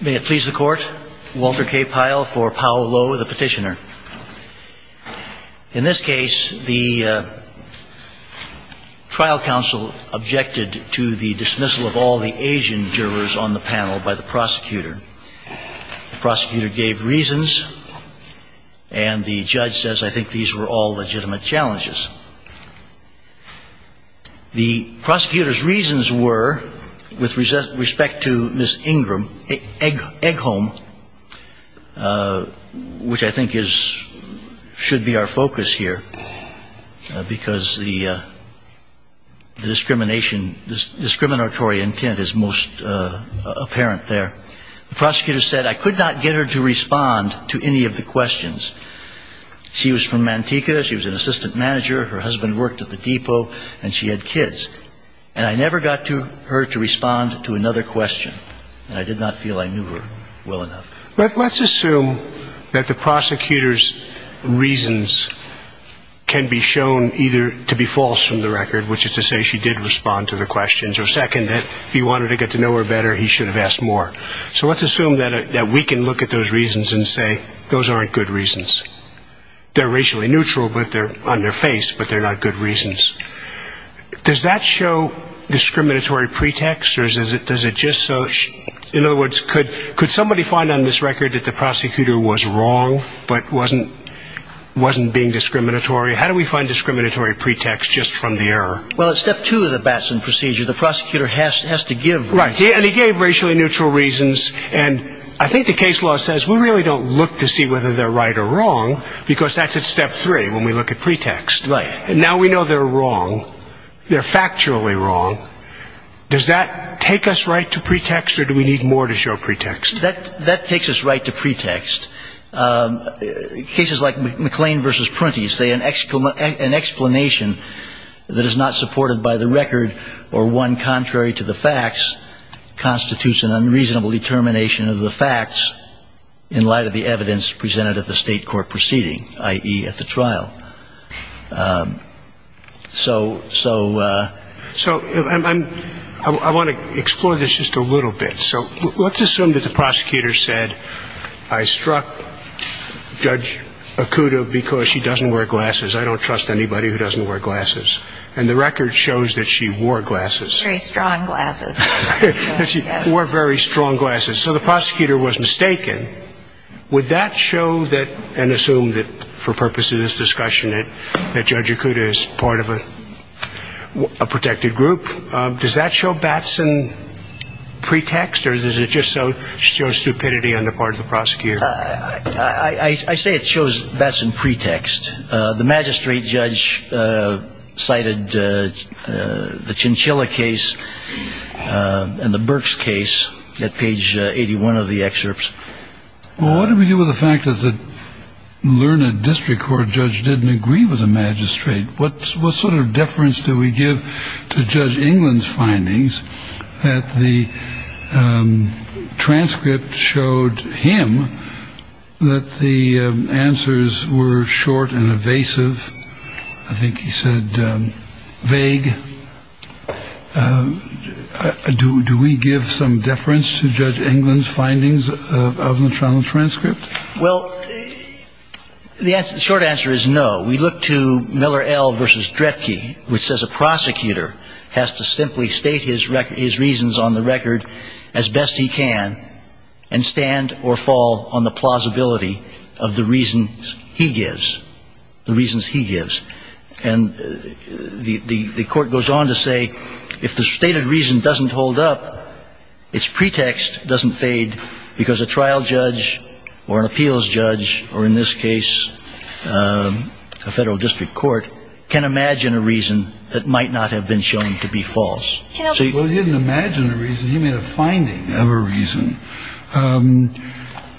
May it please the court, Walter K. Pyle for Pao Lo, the petitioner. In this case, the trial counsel objected to the dismissal of all the Asian jurors on the panel by the prosecutor. The prosecutor gave reasons, and the judge says, I think these were all legitimate challenges. The prosecutor's reasons were, with respect to Ms. Ingram, Egg-Home, which I think should be our focus here, because the discriminatory intent is most apparent there. The prosecutor said, I could not get her to respond to any of the questions. She was from Manteca. She was an assistant manager. Her husband worked at the depot, and she had kids. And I never got her to respond to another question, and I did not feel I knew her well enough. Let's assume that the prosecutor's reasons can be shown either to be false from the record, which is to say she did respond to the questions, or second, that if he wanted to get to know her better, he should have asked more. So let's assume that we can look at those reasons and say, those aren't good reasons. They're racially neutral on their face, but they're not good reasons. Does that show discriminatory pretext? In other words, could somebody find on this record that the prosecutor was wrong, but wasn't being discriminatory? How do we find discriminatory pretext just from the error? Well, at step two of the Batson procedure, the prosecutor has to give reasons. Right, and he gave racially neutral reasons, and I think the case law says we really don't look to see whether they're right or wrong, because that's at step three when we look at pretext. Right. And now we know they're wrong. They're factually wrong. Does that take us right to pretext, or do we need more to show pretext? That takes us right to pretext. Cases like McLean v. Prunty say an explanation that is not supported by the record or one contrary to the facts constitutes an unreasonable determination of the facts in light of the evidence presented at the state court proceeding, i.e. at the trial. So I want to explore this just a little bit. So let's assume that the prosecutor said, I struck Judge Okuda because she doesn't wear glasses. I don't trust anybody who doesn't wear glasses. And the record shows that she wore glasses. Very strong glasses. She wore very strong glasses. So the prosecutor was mistaken. Would that show that, and assume that for purposes of this discussion that Judge Okuda is part of a protected group, does that show Batson pretext, or does it just show stupidity on the part of the prosecutor? I say it shows Batson pretext. The magistrate judge cited the Chinchilla case and the Burks case at page 81 of the excerpts. Well, what do we do with the fact that the learned district court judge didn't agree with the magistrate? What sort of deference do we give to Judge England's findings that the transcript showed him that the answers were short and evasive? I think he said vague. Do we give some deference to Judge England's findings of the transcript? Well, the short answer is no. We look to Miller L. v. Dredge, which says a prosecutor has to simply state his reasons on the record as best he can and stand or fall on the plausibility of the reasons he gives. And the court goes on to say if the stated reason doesn't hold up, its pretext doesn't fade because a trial judge or an appeals judge, or in this case a federal district court, can imagine a reason that might not have been shown to be false. Well, he didn't imagine a reason. He made a finding of a reason.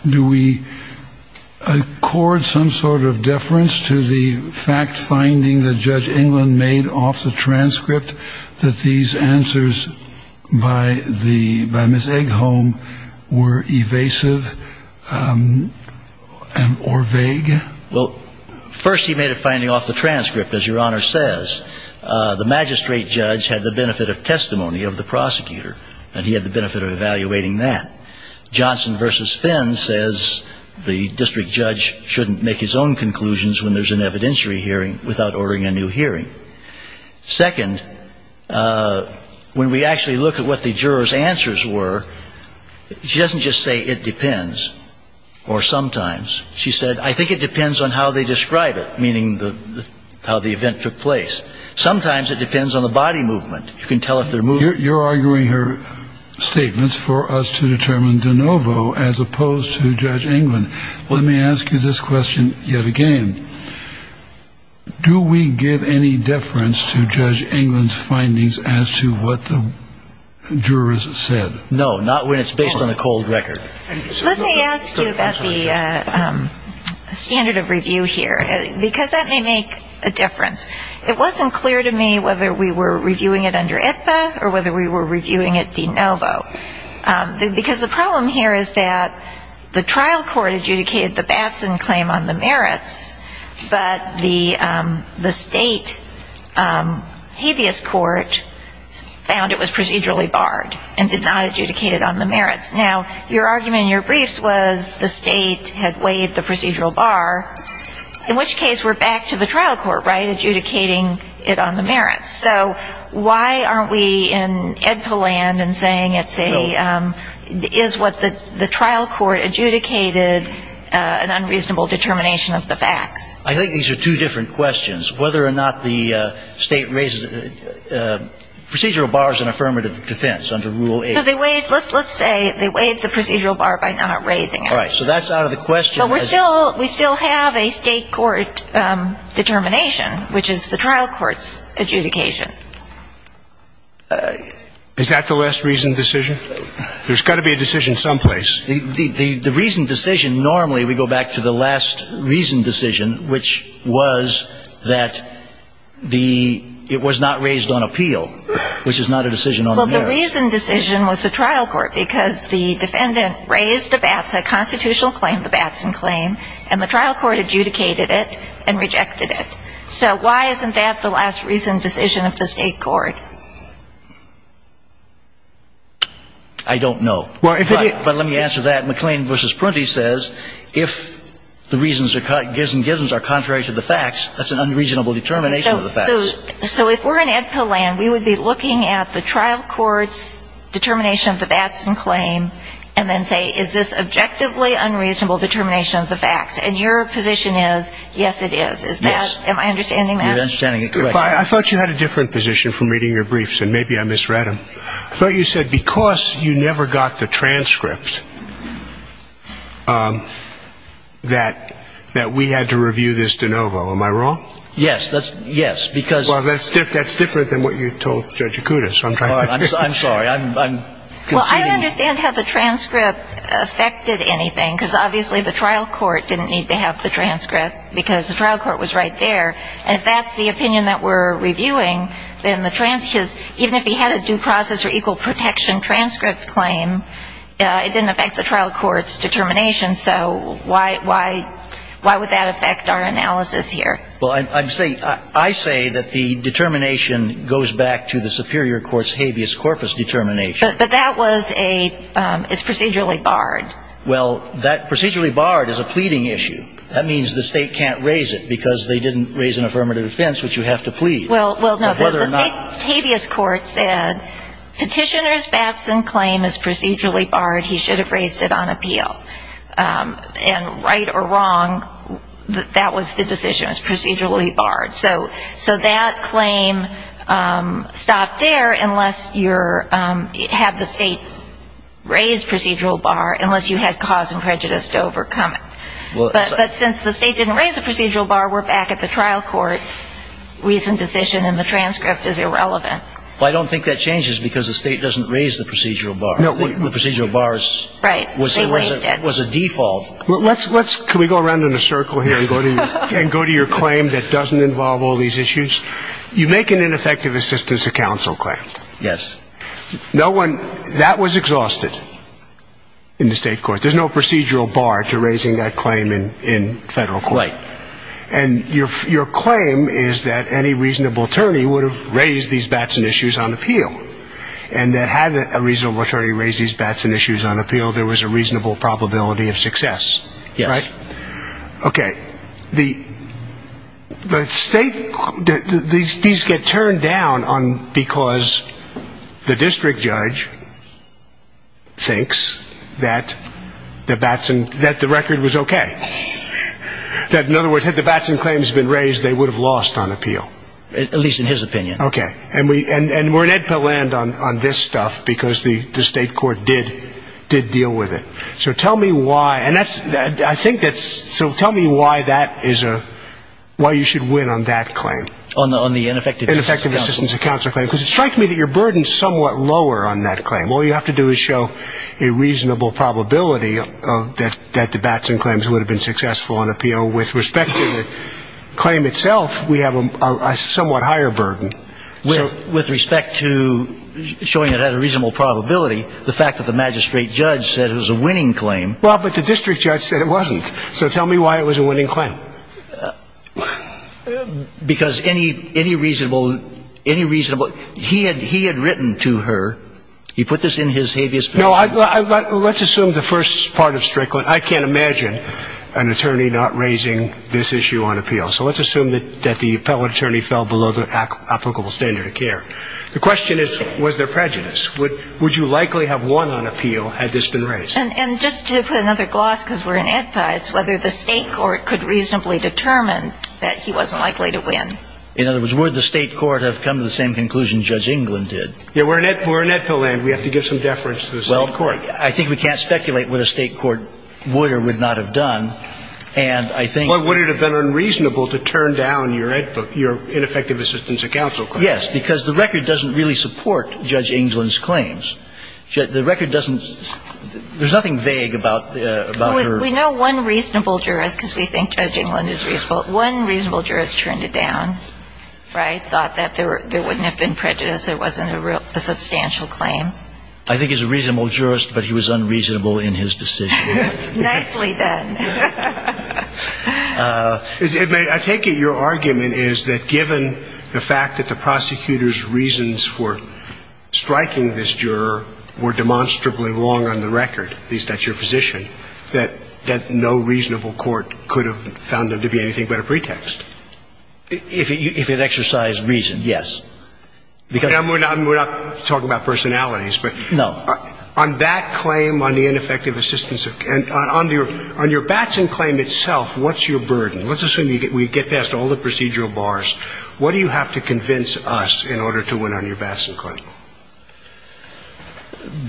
Do we accord some sort of deference to the fact finding that Judge England made off the transcript that these answers by Ms. Eggholm were evasive or vague? Well, first he made a finding off the transcript, as Your Honor says. The magistrate judge had the benefit of testimony of the prosecutor, and he had the benefit of evaluating that. Johnson v. Finn says the district judge shouldn't make his own conclusions when there's an evidentiary hearing without ordering a new hearing. Second, when we actually look at what the jurors' answers were, she doesn't just say it depends or sometimes. She said, I think it depends on how they describe it, meaning how the event took place. Sometimes it depends on the body movement. You can tell if they're moving. Your Honor, you're arguing her statements for us to determine de novo as opposed to Judge England. Let me ask you this question yet again. Do we give any deference to Judge England's findings as to what the jurors said? No, not when it's based on a cold record. Let me ask you about the standard of review here, because that may make a difference. It wasn't clear to me whether we were reviewing it under IPPA or whether we were reviewing it de novo, because the problem here is that the trial court adjudicated the Batson claim on the merits, but the state habeas court found it was procedurally barred and did not adjudicate it on the merits. Now, your argument in your briefs was the state had waived the procedural bar, in which case we're back to the trial court, right, adjudicating it on the merits. So why aren't we in EDPA land and saying it's a, is what the trial court adjudicated an unreasonable determination of the facts? I think these are two different questions, whether or not the state raises it. Procedural bar is an affirmative defense under Rule 8. Is that the last reasoned decision? There's got to be a decision someplace. The reasoned decision, normally we go back to the last reasoned decision, which was that the, it was not raised on appeal, which is not a decision on the merits. Well, the reasoned decision was the trial court, because the defendant raised a Batson, a constitutional claim, the Batson claim, and the trial court adjudicated it and rejected it. So why isn't that the last reasoned decision of the state court? I don't know. But let me answer that. McLean v. Prunty says if the reasons are cut, gives and givens are contrary to the facts, that's an unreasonable determination of the facts. So if we're in EDPA land, we would be looking at the trial court's determination of the Batson claim and then say, is this objectively unreasonable determination of the facts? And your position is, yes, it is. Yes. Am I understanding that? You're understanding it correctly. But I thought you had a different position from reading your briefs, and maybe I misread them. I thought you said because you never got the transcript, that we had to review this de novo. Am I wrong? Yes. That's, yes, because. Well, that's different than what you told Judge Acuda, so I'm trying to. I'm sorry. I'm conceding. Well, I don't understand how the transcript affected anything, because obviously the trial court didn't need to have the transcript, because the trial court was right there. And if that's the opinion that we're reviewing, then the transcript, even if he had a due process or equal protection transcript claim, it didn't affect the trial court's determination. So why would that affect our analysis here? Well, I say that the determination goes back to the superior court's habeas corpus determination. But that was a, it's procedurally barred. Well, that procedurally barred is a pleading issue. That means the state can't raise it, because they didn't raise an affirmative defense, which you have to plead. Well, no, the state habeas court said petitioner's Batson claim is procedurally barred. He should have raised it on appeal. And right or wrong, that was the decision. It was procedurally barred. So that claim stopped there unless you had the state raise procedural bar, unless you had cause and prejudice to overcome it. But since the state didn't raise the procedural bar, we're back at the trial court's recent decision, and the transcript is irrelevant. Well, I don't think that changes, because the state doesn't raise the procedural bar. No. The procedural bar was a default. Can we go around in a circle here and go to your claim that doesn't involve all these issues? You make an ineffective assistance to counsel claim. Yes. No one, that was exhausted in the state court. There's no procedural bar to raising that claim in federal court. Right. And your claim is that any reasonable attorney would have raised these Batson issues on appeal, and that had a reasonable attorney raised these Batson issues on appeal, there was a reasonable probability of success. Yes. Right? Okay. The state, these get turned down because the district judge thinks that the Batson, that the record was okay. That, in other words, had the Batson claims been raised, they would have lost on appeal. At least in his opinion. Okay. And we're in EDPA land on this stuff, because the state court did deal with it. So tell me why, and that's, I think that's, so tell me why that is a, why you should win on that claim. On the ineffective assistance to counsel. Ineffective assistance to counsel claim, because it strikes me that your burden is somewhat lower on that claim. All you have to do is show a reasonable probability that the Batson claims would have been successful on appeal. With respect to the claim itself, we have a somewhat higher burden. With respect to showing it had a reasonable probability, the fact that the magistrate judge said it was a winning claim. Well, but the district judge said it wasn't. So tell me why it was a winning claim. Because any reasonable, he had written to her, he put this in his habeas petition. No, let's assume the first part of Strickland, I can't imagine an attorney not raising this issue on appeal. So let's assume that the appellate attorney fell below the applicable standard of care. The question is, was there prejudice? Would you likely have won on appeal had this been raised? And just to put another gloss, because we're in EDPA, it's whether the state court could reasonably determine that he wasn't likely to win. In other words, would the state court have come to the same conclusion Judge England did? Yeah, we're in EDPA land. We have to give some deference to the state court. Well, I think we can't speculate what a state court would or would not have done. Well, would it have been unreasonable to turn down your ineffective assistance of counsel claim? Yes, because the record doesn't really support Judge England's claims. The record doesn't, there's nothing vague about her. We know one reasonable jurist, because we think Judge England is reasonable, one reasonable jurist turned it down, right, thought that there wouldn't have been prejudice, it wasn't a substantial claim. I think he's a reasonable jurist, but he was unreasonable in his decision. Nicely done. I take it your argument is that given the fact that the prosecutor's reasons for striking this juror were demonstrably wrong on the record, at least that's your position, that no reasonable court could have found them to be anything but a pretext. If it exercised reason, yes. We're not talking about personalities. No. On that claim, on the ineffective assistance of counsel, on your Batson claim itself, what's your burden? Let's assume we get past all the procedural bars. What do you have to convince us in order to win on your Batson claim?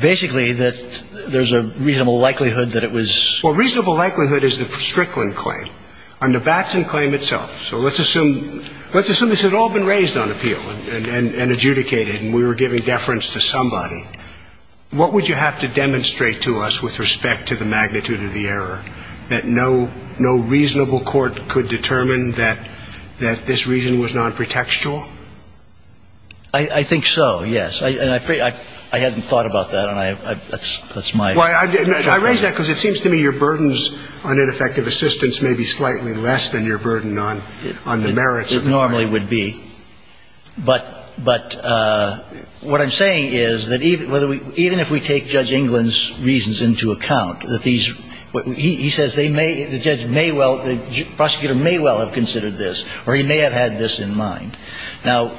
Basically that there's a reasonable likelihood that it was. Well, reasonable likelihood is the Strickland claim. On the Batson claim itself, so let's assume this had all been raised on appeal and adjudicated and we were giving deference to somebody, what would you have to demonstrate to us with respect to the magnitude of the error that no reasonable court could determine that this reason was nonpretextual? I think so, yes. And I hadn't thought about that, and that's my position. I raise that because it seems to me your burdens on ineffective assistance may be slightly less than your burden on the merits. It normally would be. But what I'm saying is that even if we take Judge England's reasons into account, that these – he says they may – the judge may well – the prosecutor may well have considered this or he may have had this in mind. Now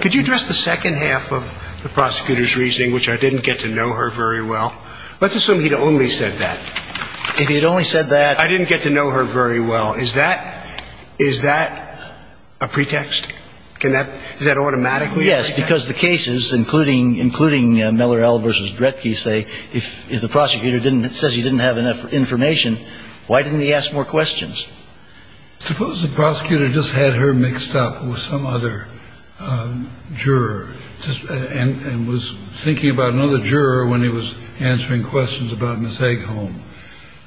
– Could you address the second half of the prosecutor's reasoning, which I didn't get to know her very well? Let's assume he'd only said that. If he'd only said that – I didn't get to know her very well. Now, is that – is that a pretext? Can that – is that automatically a pretext? Yes, because the cases, including Miller L. v. Dretke, say if the prosecutor didn't – says he didn't have enough information, why didn't he ask more questions? Suppose the prosecutor just had her mixed up with some other juror and was thinking about another juror when he was answering questions about Ms. Egholm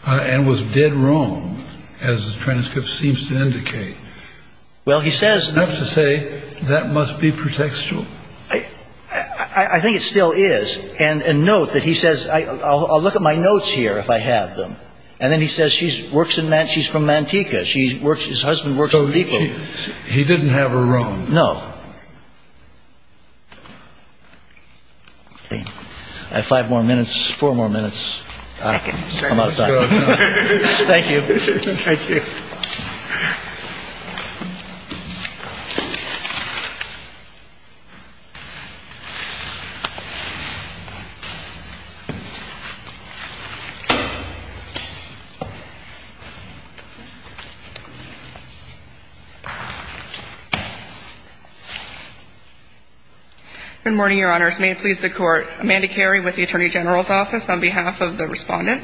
and was dead wrong, as the transcript seems to indicate. Well, he says – Enough to say that must be pretextual. I think it still is. And note that he says, I'll look at my notes here if I have them. And then he says she works in – she's from Manteca. She works – his husband works at the depot. He didn't have her wrong. No. I have five more minutes, four more minutes. I'm out of time. Thank you. Good morning, Your Honors. May it please the Court. Amanda Carey with the Attorney General's Office on behalf of the respondent.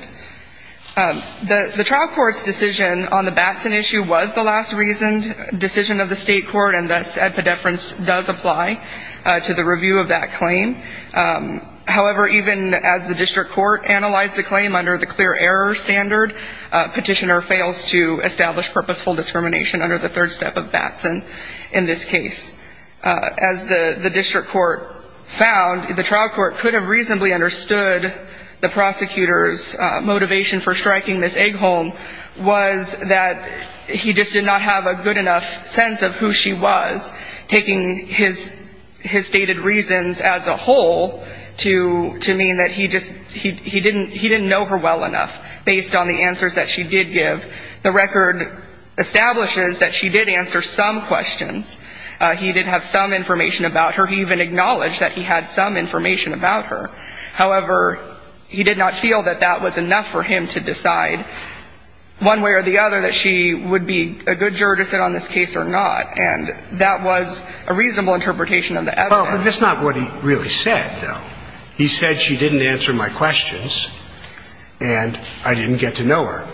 The trial court's decision on the Batson issue was the last reasoned decision of the state court, and thus, epidephrin does apply to the review of that claim. However, even as the district court analyzed the claim under the clear error standard, petitioner fails to establish purposeful discrimination under the third step of Batson in this case. As the district court found, the trial court could have reasonably understood the prosecutor's motivation for striking Ms. Eggholm was that he just did not have a good enough sense of who she was, taking his stated reasons as a whole to mean that he just – he didn't know her well enough based on the answers that she did give. The record establishes that she did answer some questions. He did have some information about her. He even acknowledged that he had some information about her. However, he did not feel that that was enough for him to decide one way or the other that she would be a good juror to sit on this case or not, and that was a reasonable interpretation of the evidence. Well, but that's not what he really said, though. He said she didn't answer my questions and I didn't get to know her.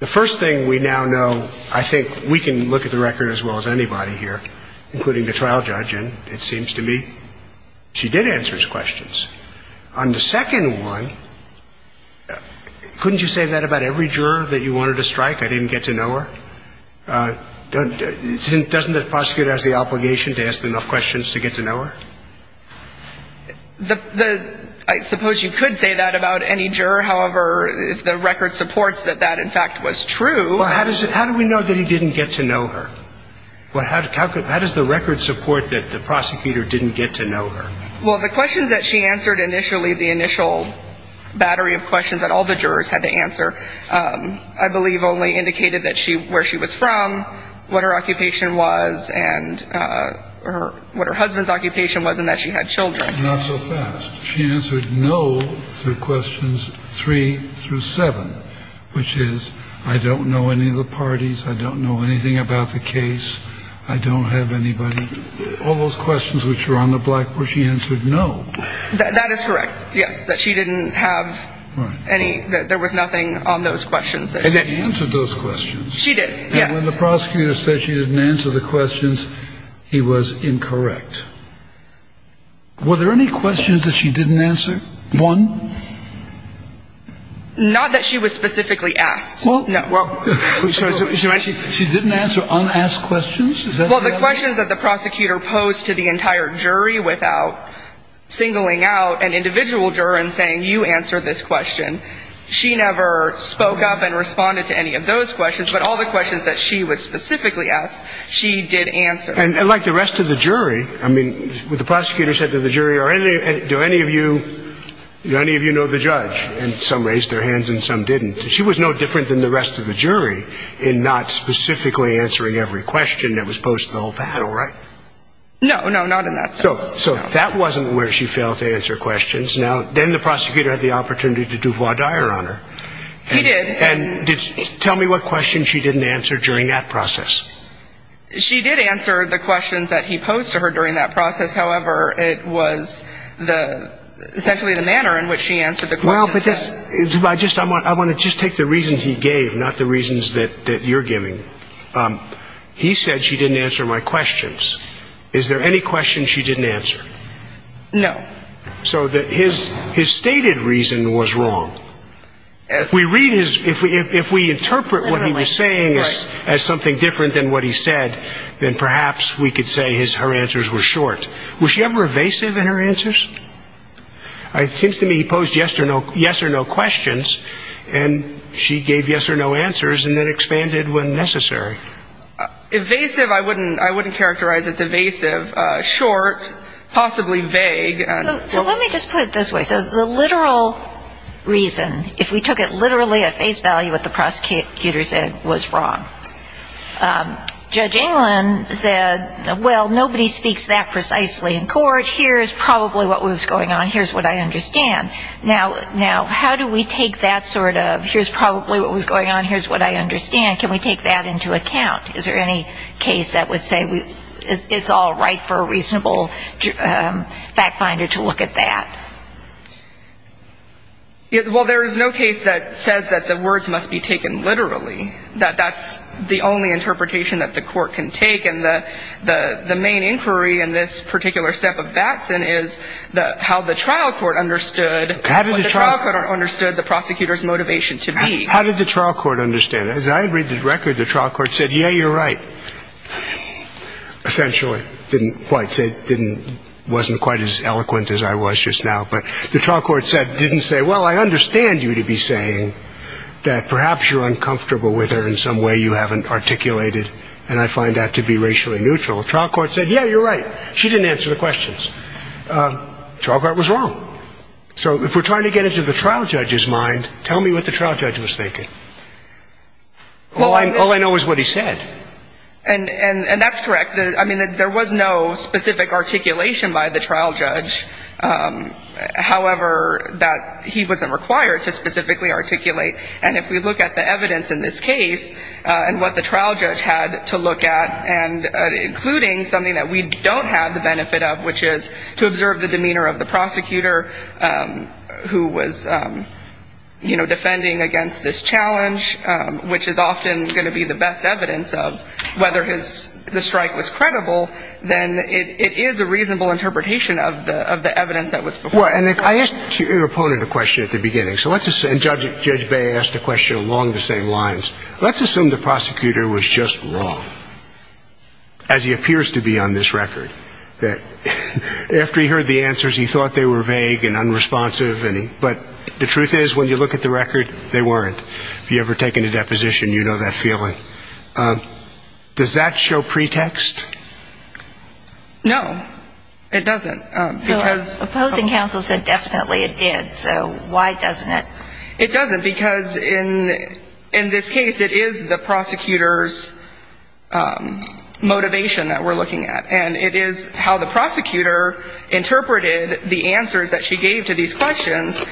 The first thing we now know, I think we can look at the record as well as anybody here, including the trial judge, and it seems to me she did answer his questions. On the second one, couldn't you say that about every juror that you wanted to strike, I didn't get to know her? Doesn't the prosecutor have the obligation to ask enough questions to get to know her? I suppose you could say that about any juror. However, the record supports that that, in fact, was true. Well, how do we know that he didn't get to know her? How does the record support that the prosecutor didn't get to know her? Well, the questions that she answered initially, the initial battery of questions that all the jurors had to answer, I believe only indicated where she was from, what her occupation was, and what her husband's occupation was and that she had children. Not so fast. She answered no through questions three through seven, which is I don't know any of the parties. I don't know anything about the case. I don't have anybody. All those questions which were on the blackboard, she answered no. That is correct, yes, that she didn't have any. There was nothing on those questions. She answered those questions. She did, yes. When the prosecutor said she didn't answer the questions, he was incorrect. Were there any questions that she didn't answer? One? Not that she was specifically asked. No. She didn't answer unasked questions? Well, the questions that the prosecutor posed to the entire jury without singling out an individual juror and saying you answer this question, she never spoke up and responded to any of those questions, but all the questions that she was specifically asked, she did answer. And like the rest of the jury, I mean, the prosecutor said to the jury, do any of you know the judge? And some raised their hands and some didn't. She was no different than the rest of the jury in not specifically answering every question that was posed to the whole panel, right? No, no, not in that sense. So that wasn't where she failed to answer questions. Now, then the prosecutor had the opportunity to do voir dire on her. He did. And tell me what questions she didn't answer during that process. She did answer the questions that he posed to her during that process. However, it was essentially the manner in which she answered the questions. I want to just take the reasons he gave, not the reasons that you're giving. He said she didn't answer my questions. Is there any questions she didn't answer? No. So his stated reason was wrong. If we interpret what he was saying as something different than what he said, then perhaps we could say her answers were short. Was she ever evasive in her answers? It seems to me he posed yes or no questions, and she gave yes or no answers and then expanded when necessary. Evasive, I wouldn't characterize as evasive. Short, possibly vague. So let me just put it this way. So the literal reason, if we took it literally at face value, what the prosecutor said was wrong. Judge England said, well, nobody speaks that precisely in court. Here's probably what was going on. Here's what I understand. Now, how do we take that sort of here's probably what was going on, here's what I understand, can we take that into account? Is there any case that would say it's all right for a reasonable fact finder to look at that? Well, there is no case that says that the words must be taken literally, that that's the only interpretation that the court can take, and the main inquiry in this particular step of Batson is how the trial court understood what the trial court understood the prosecutor's motivation to be. How did the trial court understand it? As I read the record, the trial court said, yeah, you're right. Essentially, didn't quite say, wasn't quite as eloquent as I was just now. But the trial court didn't say, well, I understand you to be saying that perhaps you're uncomfortable with her in some way you haven't articulated, and I find that to be racially neutral. The trial court said, yeah, you're right. She didn't answer the questions. The trial court was wrong. So if we're trying to get into the trial judge's mind, tell me what the trial judge was thinking. All I know is what he said. And that's correct. I mean, there was no specific articulation by the trial judge, however, that he wasn't required to specifically articulate. And if we look at the evidence in this case and what the trial judge had to look at, including something that we don't have the benefit of, which is to observe the demeanor of the prosecutor who was, you know, defending against this challenge, which is often going to be the best evidence of whether the strike was credible, then it is a reasonable interpretation of the evidence that was before. Well, and I asked your opponent a question at the beginning, and Judge Bay asked a question along the same lines. Let's assume the prosecutor was just wrong, as he appears to be on this record, that after he heard the answers, he thought they were vague and unresponsive. But the truth is, when you look at the record, they weren't. If you've ever taken a deposition, you know that feeling. Does that show pretext? No, it doesn't. So opposing counsel said definitely it did. So why doesn't it? It doesn't, because in this case, it is the prosecutor's motivation that we're looking at. And it is how the prosecutor interpreted the answers that she gave to these questions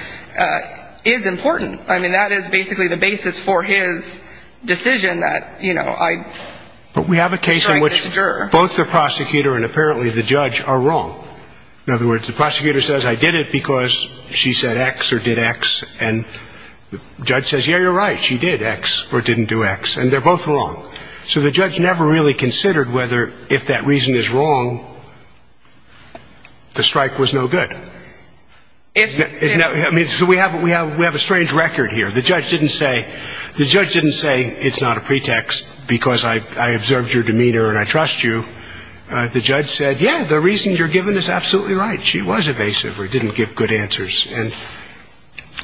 is important. I mean, that is basically the basis for his decision that, you know, I strike this juror. But we have a case in which both the prosecutor and apparently the judge are wrong. In other words, the prosecutor says I did it because she said X or did X, and the judge says, yeah, you're right, she did X or didn't do X, and they're both wrong. So the judge never really considered whether if that reason is wrong, the strike was no good. I mean, so we have a strange record here. The judge didn't say it's not a pretext because I observed your demeanor and I trust you. The judge said, yeah, the reason you're given is absolutely right. She was evasive or didn't give good answers.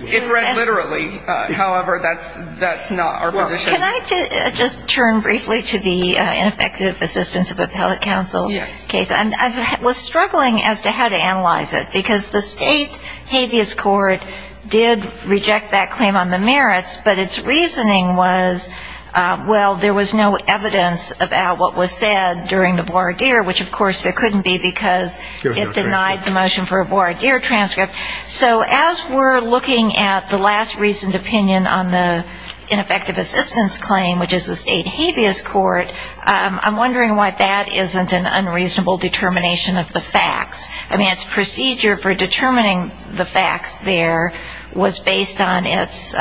It read literally. However, that's not our position. Can I just turn briefly to the ineffective assistance of appellate counsel case? Yes. I was struggling as to how to analyze it because the state habeas court did reject that claim on the merits, but its reasoning was, well, there was no evidence about what was said during the voir dire, which, of course, there couldn't be because it denied the motion for a voir dire transcript. So as we're looking at the last reasoned opinion on the ineffective assistance claim, which is the state habeas court, I'm wondering why that isn't an unreasonable determination of the facts. I mean, its procedure for determining the facts there was based on its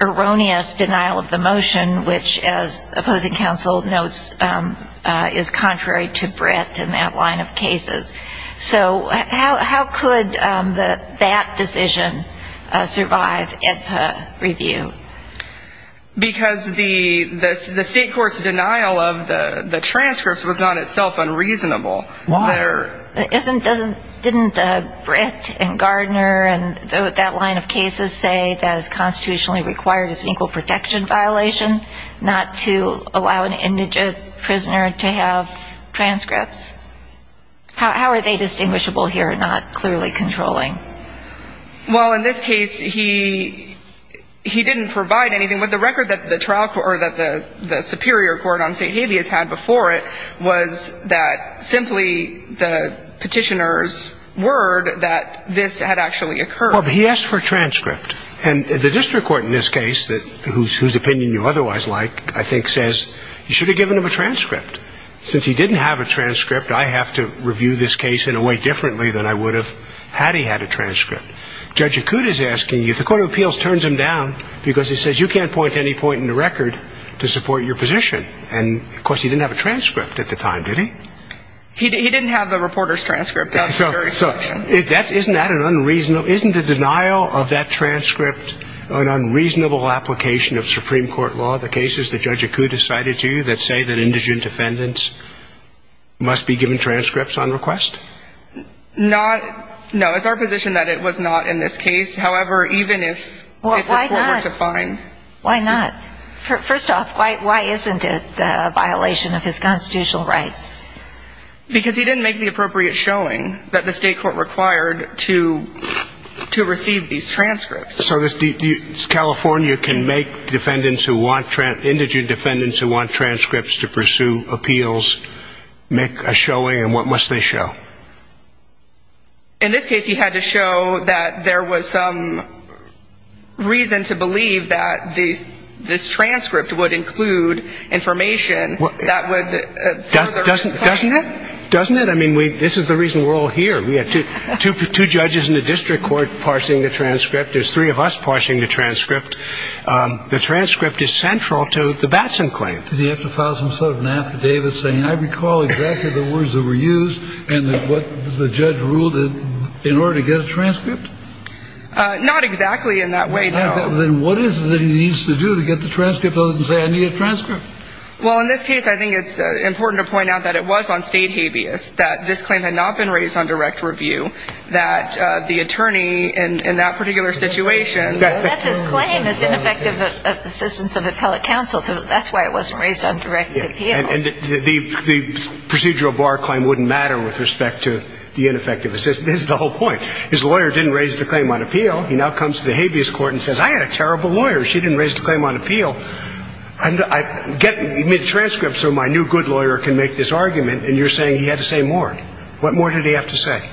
erroneous denial of the motion, which, as opposing counsel notes, is contrary to Brett in that line of cases. So how could that decision survive if reviewed? Because the state court's denial of the transcripts was not itself unreasonable. Why? Didn't Brett and Gardner and that line of cases say that it's constitutionally required, it's an equal protection violation not to allow an indigent prisoner to have transcripts? How are they distinguishable here and not clearly controlling? Well, in this case, he didn't provide anything. The record that the trial court or that the superior court on state habeas had before it was that simply the petitioner's word that this had actually occurred. Well, but he asked for a transcript. And the district court in this case, whose opinion you otherwise like, I think says you should have given him a transcript. Since he didn't have a transcript, I have to review this case in a way differently than I would have had he had a transcript. Judge Acuda is asking you, the court of appeals turns him down because he says you can't point to any point in the record to support your position. And, of course, he didn't have a transcript at the time, did he? He didn't have the reporter's transcript. So isn't that an unreasonable isn't the denial of that transcript an unreasonable application of Supreme Court law, given all the cases that Judge Acuda cited to you that say that indigent defendants must be given transcripts on request? Not no. It's our position that it was not in this case. However, even if the court were to find. Why not? First off, why isn't it a violation of his constitutional rights? Because he didn't make the appropriate showing that the state court required to receive these transcripts. So California can make defendants who want indigent defendants who want transcripts to pursue appeals make a showing. And what must they show? In this case, he had to show that there was some reason to believe that these this transcript would include information that would. Doesn't it? Doesn't it? I mean, this is the reason we're all here. We had two judges in the district court parsing the transcript. There's three of us parsing the transcript. The transcript is central to the Batson claim. Did he have to file some sort of an affidavit saying, I recall exactly the words that were used and what the judge ruled in order to get a transcript? Not exactly in that way. Then what is it that he needs to do to get the transcript and say, I need a transcript? Well, in this case, I think it's important to point out that it was on state habeas, that this claim had not been raised on direct review, that the attorney in that particular situation. That's his claim, his ineffective assistance of appellate counsel. That's why it wasn't raised on direct appeal. And the procedural bar claim wouldn't matter with respect to the ineffective assistance. That's the whole point. His lawyer didn't raise the claim on appeal. He now comes to the habeas court and says, I had a terrible lawyer. She didn't raise the claim on appeal. And I get a transcript so my new good lawyer can make this argument. And you're saying he had to say more. What more did he have to say?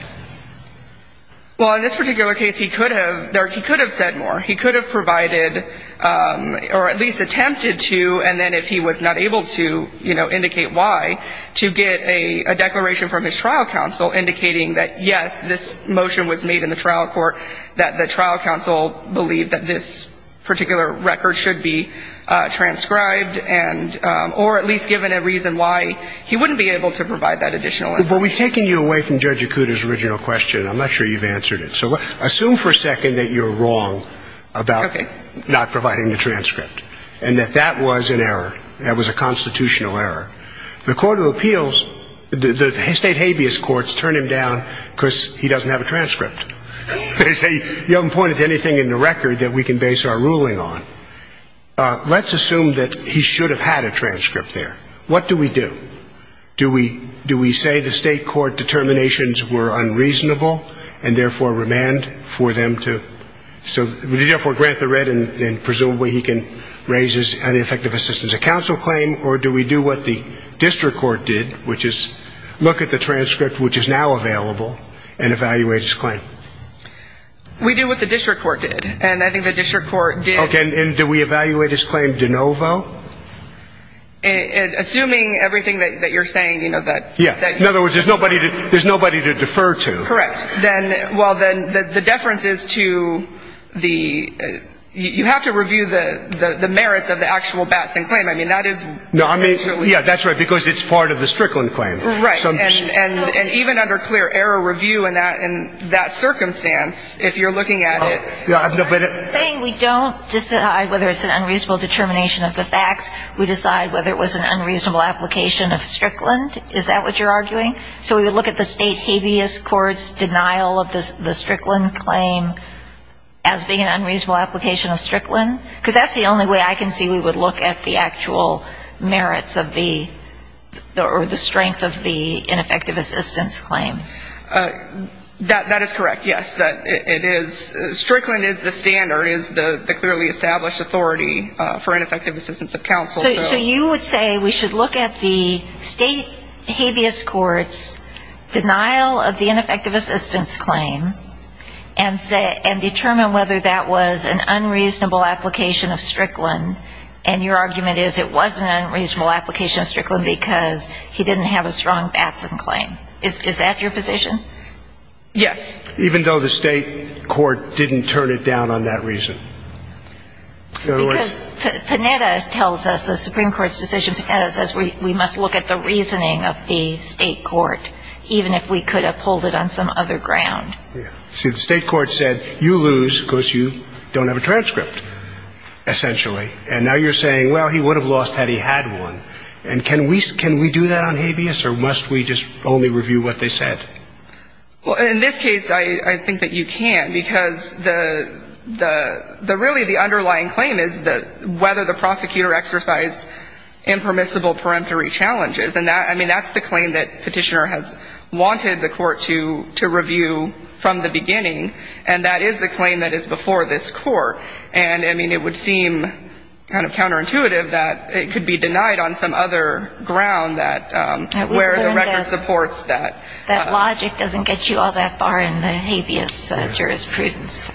Well, in this particular case, he could have said more. He could have provided or at least attempted to, and then if he was not able to indicate why, to get a declaration from his trial counsel indicating that, yes, this motion was made in the trial court, that the trial counsel believed that this particular record should be transcribed or at least given a reason why he wouldn't be able to provide that additional information. Well, we've taken you away from Judge Yakuta's original question. I'm not sure you've answered it. So assume for a second that you're wrong about not providing the transcript and that that was an error, that was a constitutional error. The court of appeals, the state habeas courts turn him down because he doesn't have a transcript. They say you haven't pointed to anything in the record that we can base our ruling on. Let's assume that he should have had a transcript there. What do we do? Do we say the state court determinations were unreasonable and therefore remand for them to, so we therefore grant the red and presumably he can raise his ineffective assistance of counsel claim or do we do what the district court did, which is look at the transcript which is now available and evaluate his claim? We do what the district court did, and I think the district court did. Okay. And do we evaluate his claim de novo? Assuming everything that you're saying, you know, that. Yeah. In other words, there's nobody to defer to. Correct. Well, then the deference is to the, you have to review the merits of the actual Batson claim. I mean, that is. Yeah, that's right, because it's part of the Strickland claim. Right. And even under clear error review in that circumstance, if you're looking at it. Saying we don't decide whether it's an unreasonable determination of the facts, we decide whether it was an unreasonable application of Strickland, is that what you're arguing? So we would look at the state habeas court's denial of the Strickland claim as being an unreasonable application of Strickland? Because that's the only way I can see we would look at the actual merits of the or the strength of the ineffective assistance claim. That is correct, yes. Strickland is the standard, is the clearly established authority for ineffective assistance of counsel. So you would say we should look at the state habeas court's denial of the ineffective assistance claim and determine whether that was an unreasonable application of Strickland, and your argument is it was an unreasonable application of Strickland because he didn't have a strong Batson claim. Is that your position? Yes. Even though the state court didn't turn it down on that reason? Because Panetta tells us, the Supreme Court's decision, Panetta says we must look at the reasoning of the state court, even if we could have pulled it on some other ground. See, the state court said you lose because you don't have a transcript, essentially. And now you're saying, well, he would have lost had he had one. And can we do that on habeas, or must we just only review what they said? Well, in this case, I think that you can, because really the underlying claim is whether the prosecutor exercised impermissible peremptory challenges. And that's the claim that Petitioner has wanted the court to review from the beginning, and that is the claim that is before this Court. And it would seem kind of counterintuitive that it could be denied on some other ground where the record supports that. That logic doesn't get you all that far in the habeas jurisprudence.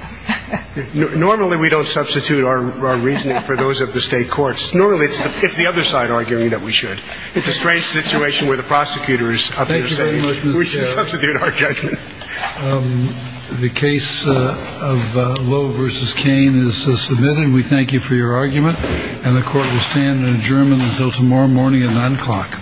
Normally we don't substitute our reasoning for those of the state courts. Normally it's the other side arguing that we should. It's a strange situation where the prosecutor is up here saying, we should substitute our judgment. The case of Lowe v. Cain is submitted, and we thank you for your argument. And the court will stand adjourned until tomorrow morning at 9 o'clock.